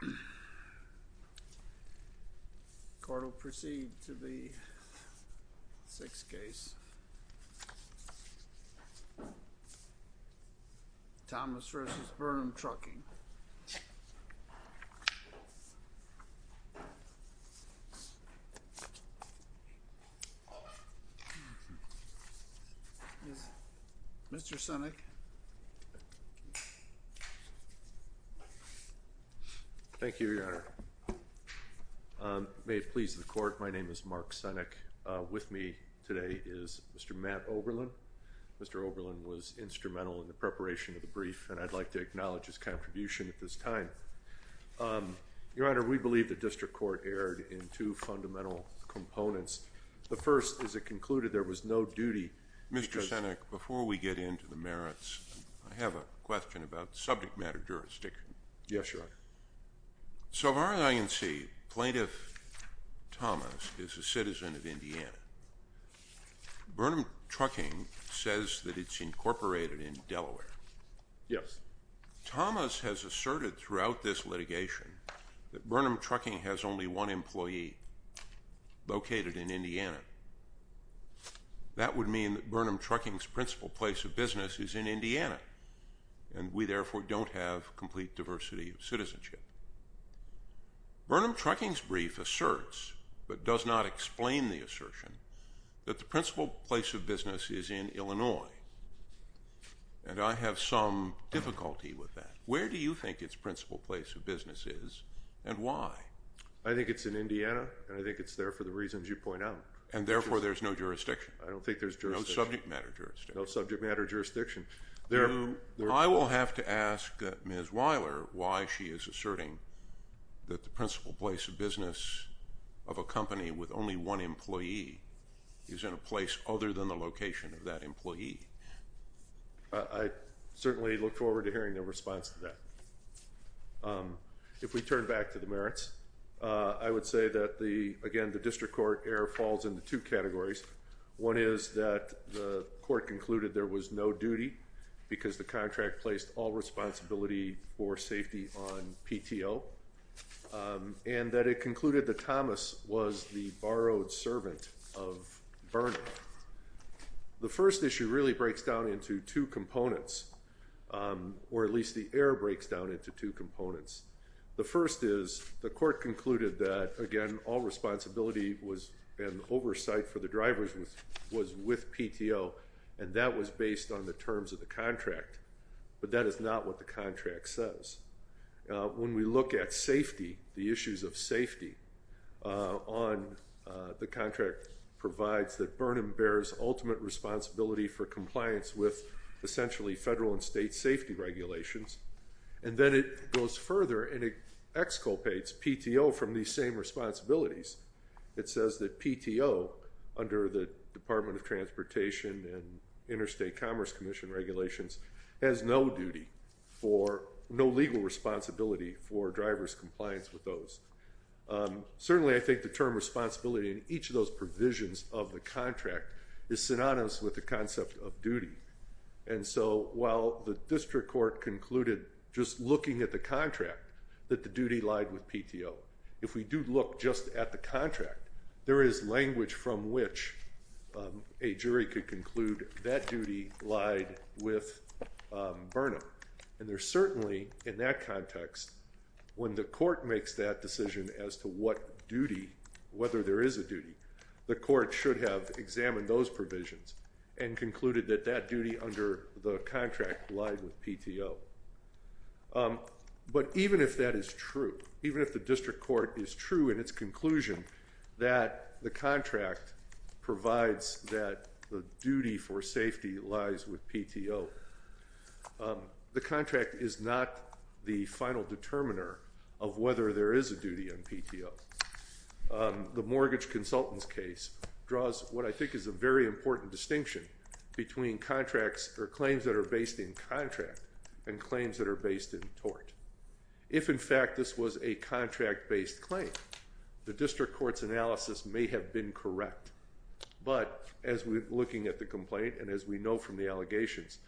The court will proceed to the sixth case, Thomas v. Burnham Trucking. Mr. Sinek. Thank you, Your Honor. May it please the court, my name is Mark Sinek. With me today is Mr. Matt Oberlin. Mr. Oberlin was instrumental in the preparation of the brief and I'd like to acknowledge his contribution at this time. Your Honor, we believe the district court erred in two fundamental components. The first is it concluded there was no duty because- Mr. Sinek, before we get into the merits, I have a question about subject matter jurisdiction. Yes, Your Honor. So far as I can see, Plaintiff Thomas is a citizen of Indiana. Burnham Trucking says that it's incorporated in Delaware. Yes. Thomas has asserted throughout this litigation that Burnham Trucking has only one employee located in Indiana. That would mean that Burnham Trucking's principal place of business is in Indiana and we therefore don't have complete diversity of citizenship. Burnham Trucking's brief asserts, but does not explain the assertion, that the principal place of business is in Illinois. And I have some difficulty with that. Where do you think its principal place of business is and why? I think it's in Indiana and I think it's there for the reasons you point out. And therefore there's no jurisdiction? I don't think there's jurisdiction. No subject matter jurisdiction? No subject matter jurisdiction. I will have to ask Ms. Wyler why she is asserting that the principal place of business of a I certainly look forward to hearing the response to that. If we turn back to the merits, I would say that again the district court error falls into two categories. One is that the court concluded there was no duty because the contract placed all responsibility for safety on PTO and that it concluded that Thomas was the borrowed servant of Burnham. The first issue really breaks down into two components, or at least the error breaks down into two components. The first is the court concluded that again all responsibility was in oversight for the drivers was with PTO and that was based on the terms of the contract, but that is not what the contract says. When we look at safety, the issues of safety on the contract provides that Burnham bears ultimate responsibility for compliance with essentially federal and state safety regulations and then it goes further and it exculpates PTO from these same responsibilities. It says that PTO under the Department of Transportation and Interstate Commerce Commission regulations has no duty for, no legal responsibility for driver's compliance with those. Certainly I think the term responsibility in each of those provisions of the contract is synonymous with the concept of duty and so while the district court concluded just looking at the contract that the duty lied with PTO, if we do look just at the contract, there is language from which a jury could conclude that duty lied with Burnham and there certainly in that context when the court makes that decision as to what duty, whether there is a duty, the court should have examined those provisions and concluded that that duty under the contract lied with PTO, but even if that is true, even if the district court is true in its conclusion that the contract provides that the duty for safety lies with PTO, the contract is not the final determiner of whether there is a duty on PTO. The mortgage consultant's case draws what I think is a very important distinction between contracts or claims that are based in contract and claims that are based in tort. If in fact this was a contract-based claim, the district court's analysis may have been correct, but as we're looking at the complaint and as we know from the allegations,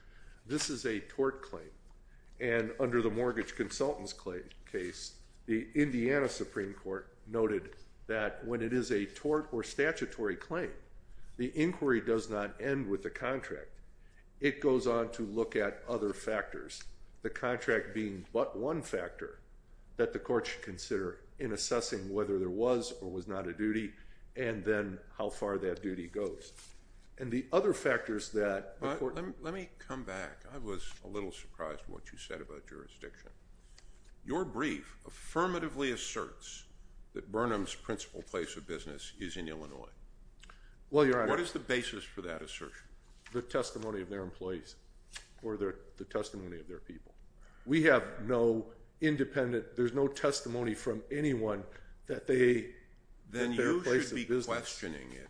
this is a tort claim and under the mortgage consultant's case, the Indiana Supreme Court noted that when it is a tort or statutory claim, the inquiry does not end with the contract. It goes on to look at other factors, the contract being but one factor that the court should consider in assessing whether there was or was not a duty and then how far that duty goes. And the other factors that the court... Let me come back. I was a little surprised what you said about jurisdiction. Your brief affirmatively asserts that Burnham's principal place of business is in Illinois. Well, Your Honor... What is the basis for that assertion? The testimony of their employees or the testimony of their people. We have no independent... There's no testimony from anyone that their place of business... Then you should be questioning it,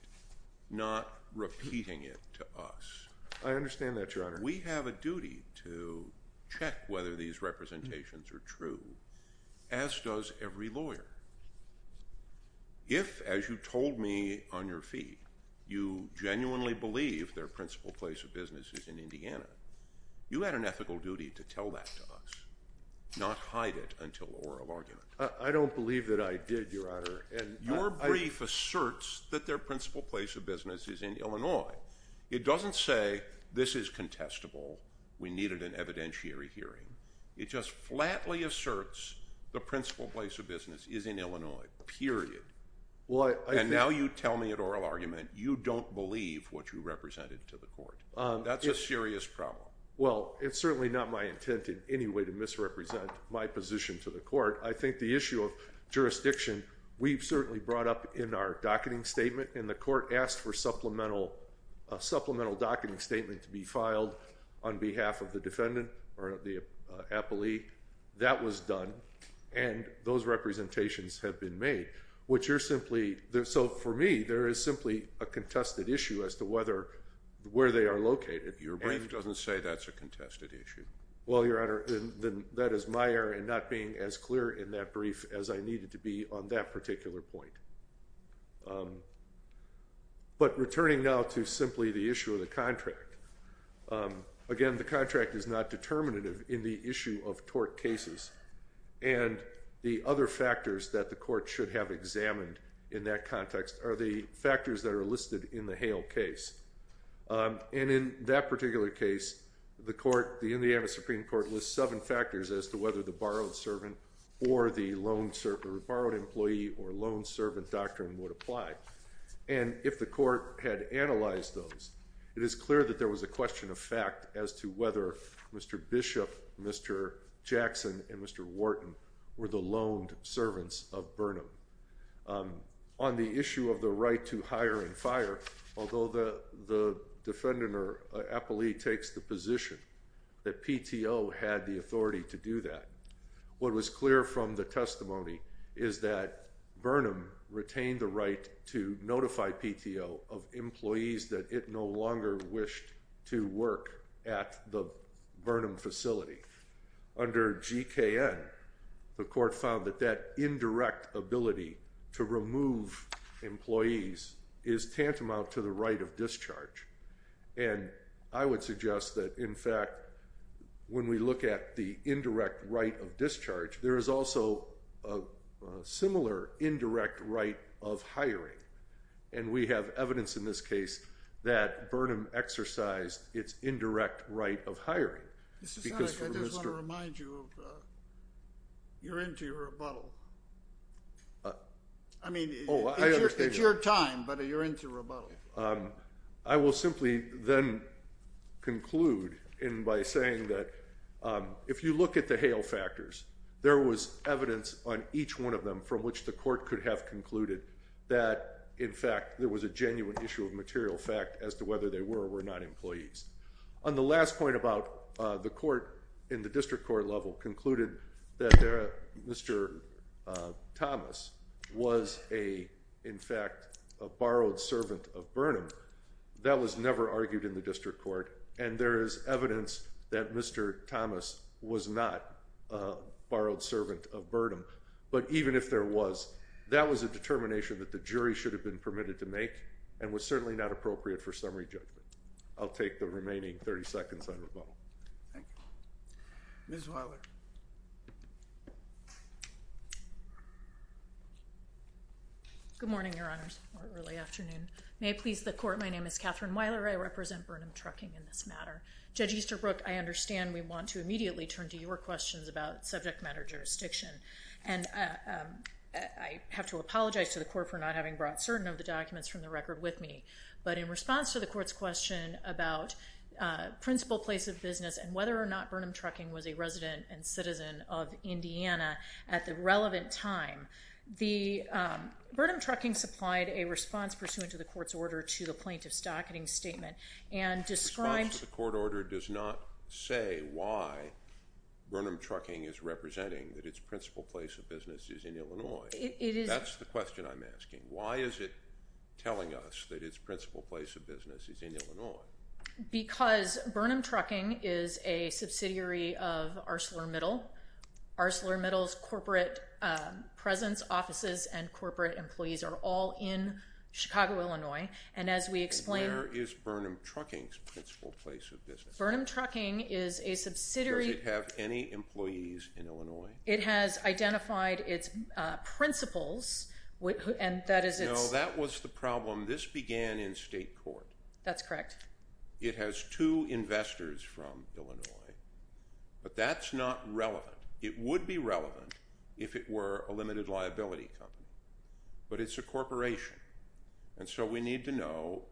not repeating it to us. I understand that, Your Honor. We have a duty to check whether these representations are true, as does every lawyer. If, as you told me on your feet, you genuinely believe their principal place of business is in Indiana, you had an ethical duty to tell that to us, not hide it until oral argument. I don't believe that I did, Your Honor. Your brief asserts that their principal place of business is in Illinois. It doesn't say, this is contestable. We needed an evidentiary hearing. It just flatly asserts the principal place of business is in Illinois, period. Now you tell me at oral argument you don't believe what you represented to the court. That's a serious problem. Well, it's certainly not my intent in any way to misrepresent my position to the court. I think the issue of jurisdiction, we've certainly brought up in our docketing statement, and the court asked for a supplemental docketing statement to be filed on behalf of the defendant or the appellee. That was done, and those representations have been made, which are simply, so for me, there is simply a contested issue as to whether, where they are located. Your brief doesn't say that's a contested issue. Well, Your Honor, then that is my error in not being as clear in that brief as I needed to be on that particular point. But returning now to simply the issue of the contract. Again, the contract is not determinative in the issue of tort cases, and the other factors that the court should have examined in that context are the factors that are listed in the Hale case. And in that particular case, the court, the Indiana Supreme Court, lists seven factors as to whether the borrowed servant or the loan, or borrowed employee or loan servant doctrine would apply. And if the court had analyzed those, it is clear that there was a question of fact as to whether Mr. Bishop, Mr. Jackson, and Mr. Wharton were the loaned servants of Burnham. On the issue of the right to hire and fire, although the defendant or appellee takes the position that PTO had the authority to do that, what was clear from the testimony is that Burnham retained the right to notify PTO of employees that it no longer wished to work at the Burnham facility. Under GKN, the court found that that indirect ability to remove employees is tantamount to the right of discharge. And I would suggest that, in fact, when we look at the indirect right of discharge, there is also a similar indirect right of hiring. And we have evidence in this case that Burnham exercised its indirect right of hiring. Mr. Snell, I just want to remind you of the, you're into your rebuttal. I mean, it's your time, but you're into your rebuttal. So, I will simply then conclude by saying that if you look at the Hale factors, there was evidence on each one of them from which the court could have concluded that, in fact, there was a genuine issue of material fact as to whether they were or were not employees. On the last point about the court in the district court level concluded that Mr. Thomas was a, in fact, a borrowed servant of Burnham, that was never argued in the district court. And there is evidence that Mr. Thomas was not a borrowed servant of Burnham. But even if there was, that was a determination that the jury should have been permitted to make and was certainly not appropriate for summary judgment. I'll take the remaining 30 seconds on rebuttal. Thank you. Ms. Weiler. Good morning, Your Honors. Or early afternoon. May it please the court, my name is Catherine Weiler. I represent Burnham Trucking in this matter. Judge Easterbrook, I understand we want to immediately turn to your questions about subject matter jurisdiction. And I have to apologize to the court for not having brought certain of the documents from the record with me. But in response to the court's question about principal place of business and whether or not Burnham Trucking was a resident and citizen of Indiana at the relevant time, the, Burnham Trucking supplied a response pursuant to the court's order to the plaintiff's docketing statement and described... The response to the court order does not say why Burnham Trucking is representing that its principal place of business is in Illinois. It is... That's the question I'm asking. Why is it telling us that its principal place of business is in Illinois? Because Burnham Trucking is a subsidiary of ArcelorMittal. ArcelorMittal's corporate presence, offices, and corporate employees are all in Chicago, Illinois. And as we explain... And where is Burnham Trucking's principal place of business? Burnham Trucking is a subsidiary... Does it have any employees in Illinois? It has identified its principals and that is its... No, that was the problem. This began in state court. That's correct. It has two investors from Illinois, but that's not relevant. It would be relevant if it were a limited liability company, but it's a corporation. And so we need to know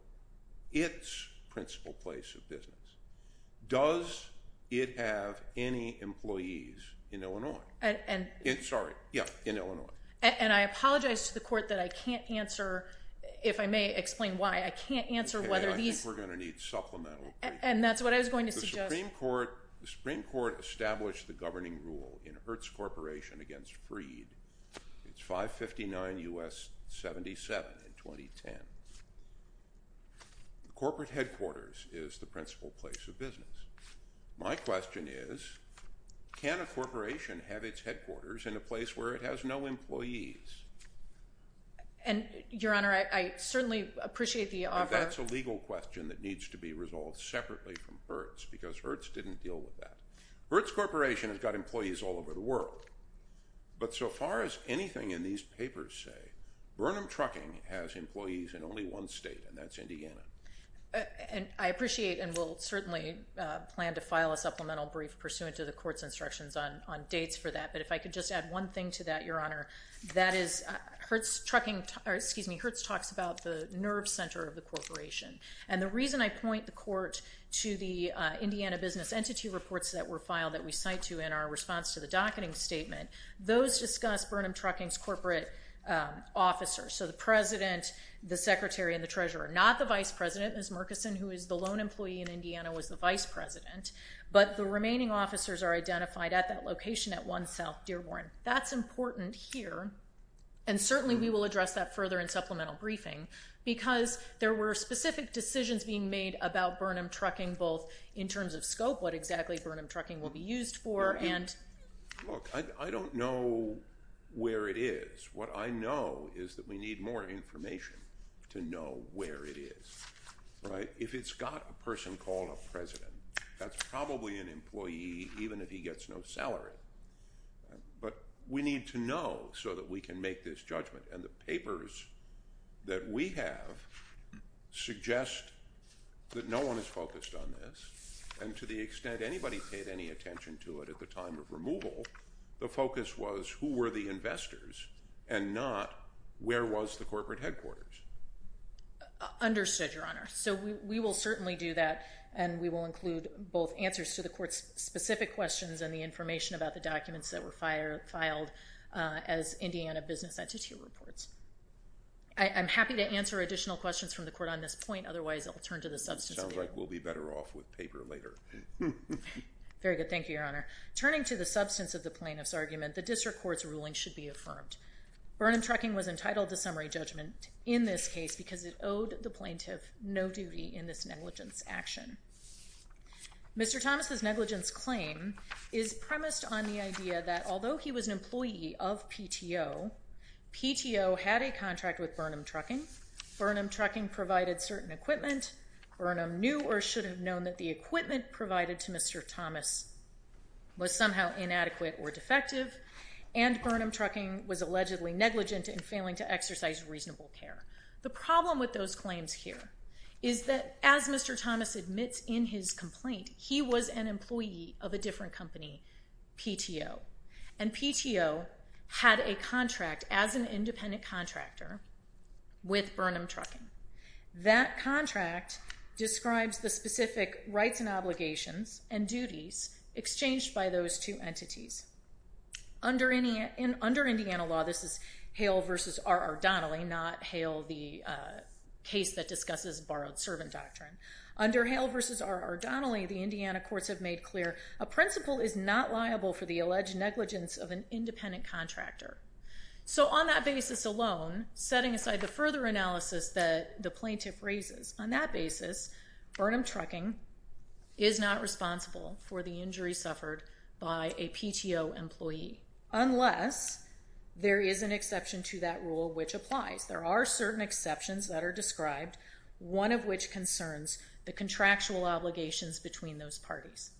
its principal place of business. Does it have any employees in Illinois? And... Sorry. Yeah, in Illinois. And I apologize to the court that I can't answer, if I may explain why, I can't answer whether these... Okay, I think we're going to need supplemental briefings. And that's what I was going to suggest. The Supreme Court established the governing rule in Hertz Corporation against Freed. It's 559 U.S. 77 in 2010. Corporate headquarters is the principal place of business. My question is, can a corporation have its headquarters in a place where it has no employees? And, Your Honor, I certainly appreciate the offer... That's a legal question that needs to be resolved separately from Hertz, because Hertz didn't deal with that. Hertz Corporation has got employees all over the world, but so far as anything in these only one state, and that's Indiana. And I appreciate and will certainly plan to file a supplemental brief pursuant to the court's instructions on dates for that. But if I could just add one thing to that, Your Honor, that is Hertz Trucking... Excuse me. Hertz talks about the nerve center of the corporation. And the reason I point the court to the Indiana business entity reports that were filed that we cite to in our response to the docketing statement, those discuss Burnham Trucking's corporate officers. So the president, the secretary, and the treasurer. Not the vice president, Ms. Murkison, who is the lone employee in Indiana, was the vice president. But the remaining officers are identified at that location at 1 South Dearborn. That's important here, and certainly we will address that further in supplemental briefing, because there were specific decisions being made about Burnham Trucking, both in terms of scope, what exactly Burnham Trucking will be used for, and... Look, I don't know where it is. What I know is that we need more information to know where it is, right? If it's got a person called a president, that's probably an employee, even if he gets no salary. But we need to know so that we can make this judgment. And the papers that we have suggest that no one has focused on this. And to the extent anybody paid any attention to it at the time of removal, the focus was, who were the investors, and not, where was the corporate headquarters? Understood, Your Honor. So we will certainly do that, and we will include both answers to the court's specific questions and the information about the documents that were filed as Indiana business entity reports. I'm happy to answer additional questions from the court on this point. Otherwise, I'll turn to the substance of the argument. Sounds like we'll be better off with paper later. Very good. Thank you, Your Honor. Turning to the substance of the plaintiff's argument, the district court's ruling should be affirmed. Burnham Trucking was entitled to summary judgment in this case because it owed the plaintiff no duty in this negligence action. Mr. Thomas's negligence claim is premised on the idea that although he was an employee of PTO, PTO had a contract with Burnham Trucking. Burnham Trucking provided certain equipment. Burnham knew or should have known that the equipment provided to Mr. Thomas was somehow inadequate or defective. And Burnham Trucking was allegedly negligent in failing to exercise reasonable care. The problem with those claims here is that as Mr. Thomas admits in his complaint, he was an employee of a different company, PTO. And PTO had a contract as an independent contractor with Burnham Trucking. That contract describes the specific rights and obligations and duties exchanged by those two entities. Under Indiana law, this is Hale v. R. Ardonnelly, not Hale, the case that discusses borrowed servant doctrine. Under Hale v. R. Ardonnelly, the Indiana courts have made clear a principal is not liable for the alleged negligence of an independent contractor. So on that basis alone, setting aside the further analysis that the plaintiff raises, on that basis, Burnham Trucking is not responsible for the injury suffered by a PTO employee. Unless there is an exception to that rule which applies. There are certain exceptions that are described, one of which concerns the contractual obligations between those parties.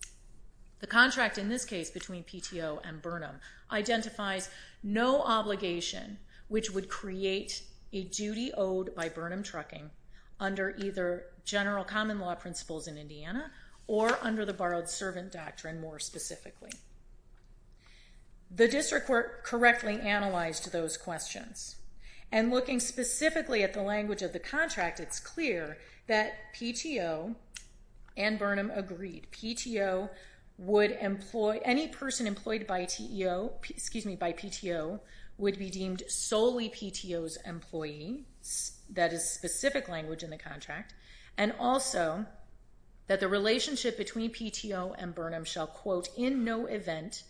The contract in this case between PTO and Burnham identifies no obligation which would create a duty owed by Burnham Trucking under either general common law principles in Indiana or under the borrowed servant doctrine more specifically. The district court correctly analyzed those questions. And looking specifically at the language of the contract, it's clear that PTO and Burnham agreed any person employed by PTO would be deemed solely PTO's employee. That is specific language in the contract. And also that the relationship between PTO and Burnham shall, quote, in no event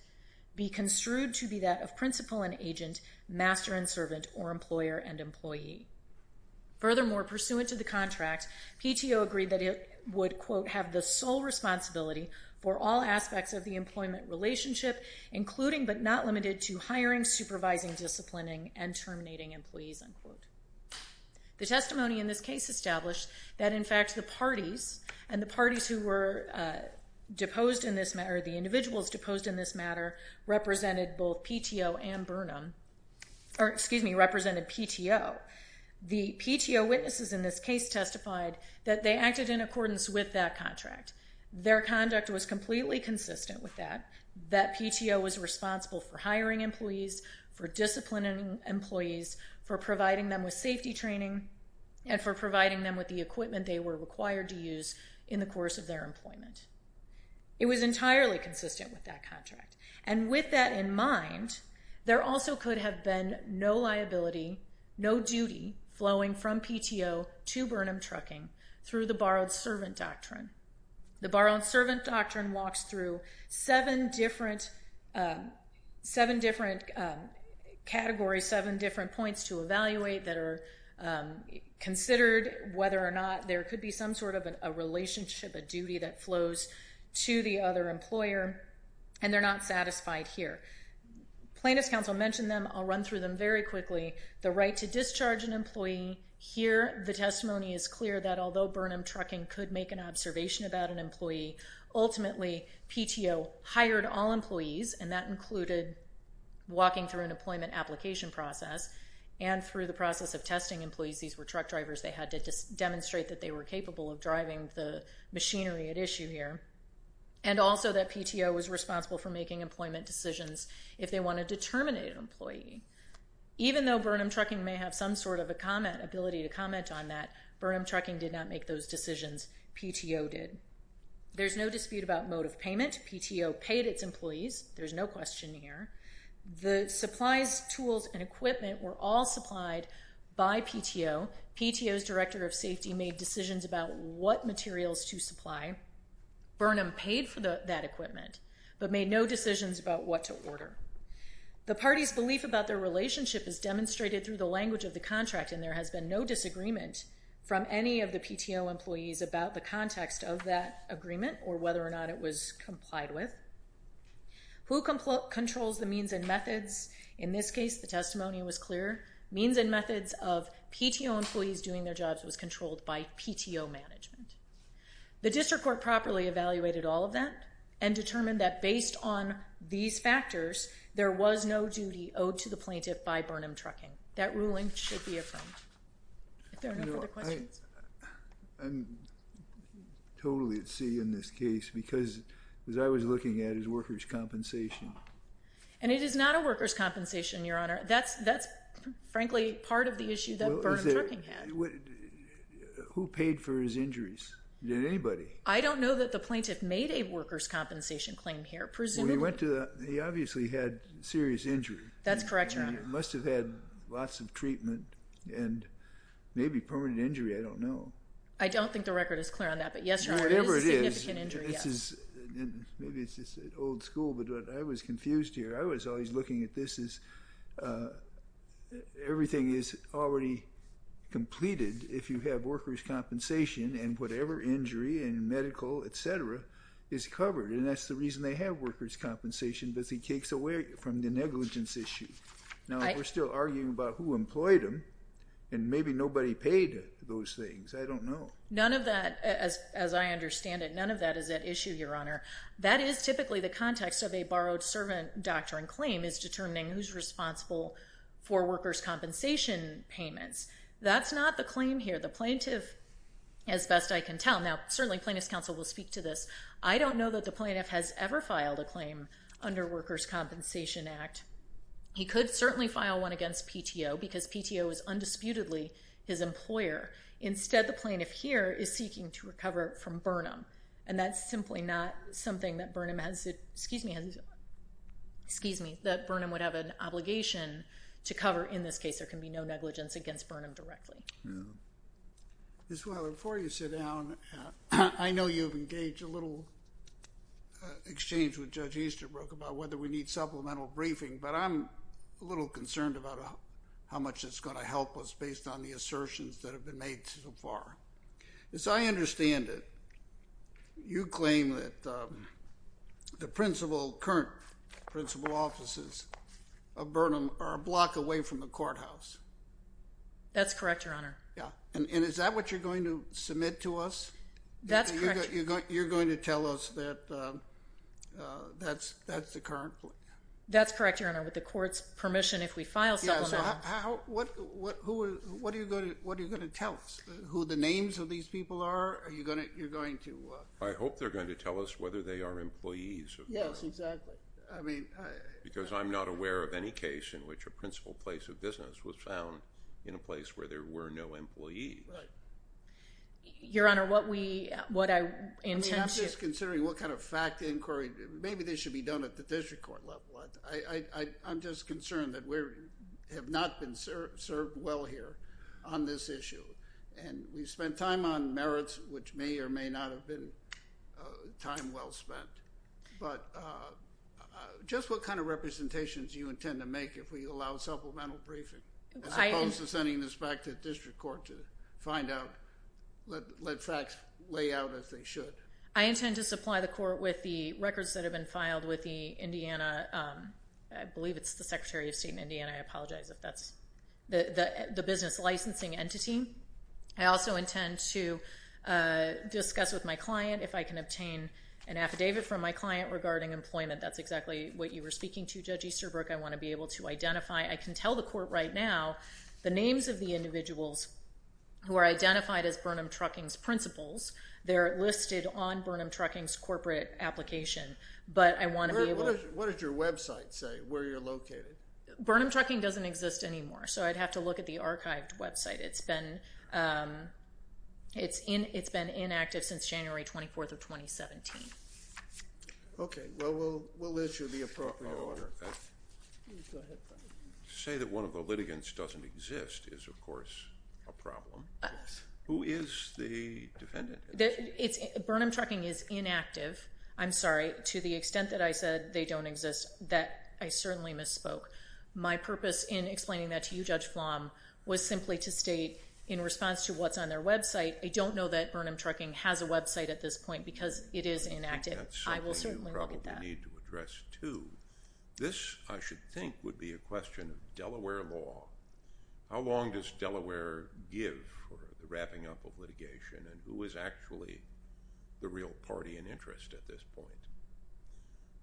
be construed to be that of principal and agent, master and servant, or employer and employee. Furthermore, pursuant to the contract, PTO agreed that it would, quote, have the sole responsibility for all aspects of the employment relationship, including but not limited to hiring, supervising, disciplining, and terminating employees, unquote. The testimony in this case established that, in fact, the parties and the parties who were deposed in this, or the individuals deposed in this matter, represented both PTO and Burnham, or, excuse me, represented PTO. The PTO witnesses in this case testified that they acted in accordance with that contract. Their conduct was completely consistent with that. That PTO was responsible for hiring employees, for disciplining employees, for providing them with safety training, and for providing them with the equipment they were required to use in the course of their employment. It was entirely consistent with that contract. And with that in mind, there also could have been no liability, no duty flowing from PTO to Burnham Trucking through the borrowed servant doctrine. The borrowed servant doctrine walks through seven different categories, seven different points to evaluate that are considered whether or not there could be some sort of a relationship, a duty that flows to the other employer, and they're not satisfied here. Plaintiff's counsel mentioned them. I'll run through them very quickly. The right to discharge an employee. Here, the testimony is clear that, although Burnham Trucking could make an observation about an employee, ultimately, PTO hired all employees, and that included walking through an employment application process, and through the process of testing employees. These were truck drivers. They had to demonstrate that they were capable of driving the machinery at issue here, and also that PTO was responsible for making employment decisions if they wanted to terminate an employee. Even though Burnham Trucking may have some sort of a comment, ability to comment on that, Burnham Trucking did not make those decisions. PTO did. There's no dispute about mode of payment. PTO paid its employees. There's no question here. The supplies, tools, and equipment were all supplied by PTO. PTO's director of safety made decisions about what materials to supply. Burnham paid for that equipment, but made no decisions about what to order. The party's belief about their relationship is demonstrated through the language of the contract, and there has been no disagreement from any of the PTO employees about the context of that agreement, or whether or not it was complied with. Who controls the means and methods? In this case, the testimony was clear. Means and methods of PTO employees doing their jobs was controlled by PTO management. The district court properly evaluated all of that, and determined that based on these factors, there was no duty owed to the plaintiff by Burnham Trucking. That ruling should be affirmed. If there are no further questions? I'm totally at sea in this case, because what I was looking at is workers' compensation. And it is not a workers' compensation, Your Honor. That's, frankly, part of the issue that Burnham Trucking had. Who paid for his injuries? Did anybody? I don't know that the plaintiff made a workers' compensation claim here. He obviously had serious injury. That's correct, Your Honor. He must have had lots of treatment, and maybe permanent injury. I don't know. I don't think the record is clear on that, but yes, Your Honor, it is a significant injury. Whatever it is, maybe it's old school, but I was confused here. I was always looking at this as everything is already completed if you have workers' compensation, and whatever injury in medical, et cetera, is covered. And that's the reason they have workers' compensation, because he takes away from the negligence issue. Now, we're still arguing about who employed him, and maybe nobody paid those things. I don't know. None of that, as I understand it, none of that is at issue, Your Honor. That is typically the context of a borrowed servant doctrine claim, is determining who's responsible for workers' compensation payments. That's not the claim here. The plaintiff, as best I can tell, now certainly Plaintiff's Counsel will speak to this. I don't know that the plaintiff has ever filed a claim under Workers' Compensation Act. He could certainly file one against PTO, because PTO is undisputedly his employer. Instead, the plaintiff here is seeking to recover from Burnham, and that's simply not something that Burnham has, excuse me, that Burnham would have an obligation to cover. In this case, there can be no negligence against Burnham directly. Ms. Weiler, before you sit down, I know you've engaged a little exchange with Judge Easterbrook about whether we need supplemental briefing, but I'm a little concerned about how much it's going to help us based on the assertions that have been made so far. As I understand it, you claim that the principal, current principal offices of Burnham are a block away from the courthouse. That's correct, Your Honor. Yeah. And is that what you're going to submit to us? That's correct. You're going to tell us that that's the current plan? That's correct, Your Honor. With the court's permission, if we file supplemental... What are you going to tell us? Who the names of these people are? Are you going to... I hope they're going to tell us whether they are employees of Burnham. Yes, exactly. I mean... Because I'm not aware of any case in which a principal place of business was found in a place where there were no employees. Right. Your Honor, what I intend to... I mean, I'm just considering what kind of fact inquiry... Maybe this should be done at the district court level. I'm just concerned that we have not been served well here on this issue. And we've spent time on merits which may or may not have been time well spent. But just what kind of representations do you intend to make if we allow supplemental briefing? As opposed to sending this back to the district court to find out, let facts lay out as they should. I intend to supply the court with the records that have been filed with the Indiana... I believe it's the Secretary of State in Indiana. I apologize if that's... The business licensing entity. I also intend to discuss with my client if I can obtain an affidavit from my client regarding employment. That's exactly what you were speaking to, Judge Easterbrook. I want to be able to identify... I can tell the court right now the names of the individuals who are identified as Burnham Trucking's principals. They're listed on Burnham Trucking's corporate application. But I want to be able... What does your website say where you're located? Burnham Trucking doesn't exist anymore. So I'd have to look at the archived website. It's been inactive since January 24th of 2017. Okay. Well, we'll issue the appropriate order. Go ahead. To say that one of the litigants doesn't exist is, of course, a problem. Who is the defendant? Burnham Trucking is inactive. I'm sorry. To the extent that I said they don't exist, that I certainly misspoke. My purpose in explaining that to you, Judge Flom, was simply to state in response to what's on their website, I don't know that Burnham Trucking has a website at this point because it is inactive. I will certainly look at that. That's something you probably need to address, too. This, I should think, would be a question of Delaware law. How long does Delaware give for the wrapping up of litigation? And who is actually the real party in interest at this point?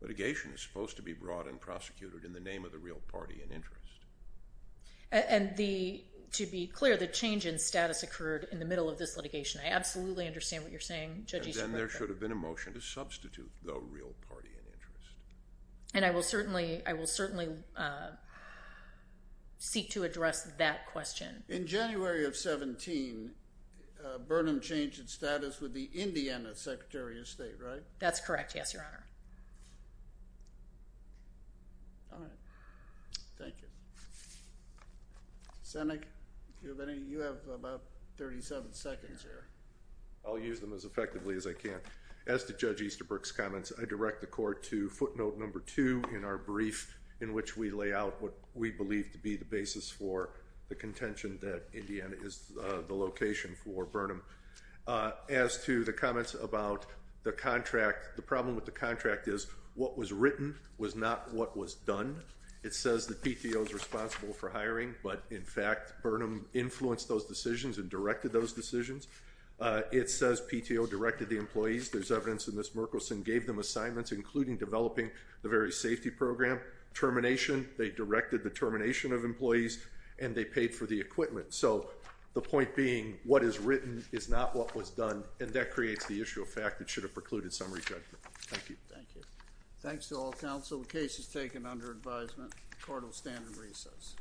Litigation is supposed to be brought and prosecuted in the name of the real party in interest. And to be clear, the change in status occurred in the middle of this litigation. I absolutely understand what you're saying. And then there should have been a motion to substitute the real party in interest. And I will certainly seek to address that question. In January of 17, Burnham changed its status with the Indiana Secretary of State, right? That's correct, yes, Your Honor. All right. Thank you. Seneca, do you have any? You have about 37 seconds there. I'll use them as effectively as I can. As to Judge Easterbrook's comments, I direct the Court to footnote number 2 in our brief in which we lay out what we believe to be the basis for the contention that Indiana is the location for Burnham. As to the comments about the contract, the problem with the contract is what was written was not what was done. It says that PTO is responsible for hiring, but in fact Burnham influenced those decisions and directed those decisions. It says PTO directed the employees. There's evidence that Ms. Merkelson gave them assignments, including developing the very safety program. Termination, they directed the termination of employees, and they paid for the equipment. So the point being, what is written is not what was done, and that creates the issue of fact that should have precluded some re-judgment. Thank you. Thanks to all counsel. The case is taken under advisement. Court will stand in recess. Thank you. Thank you.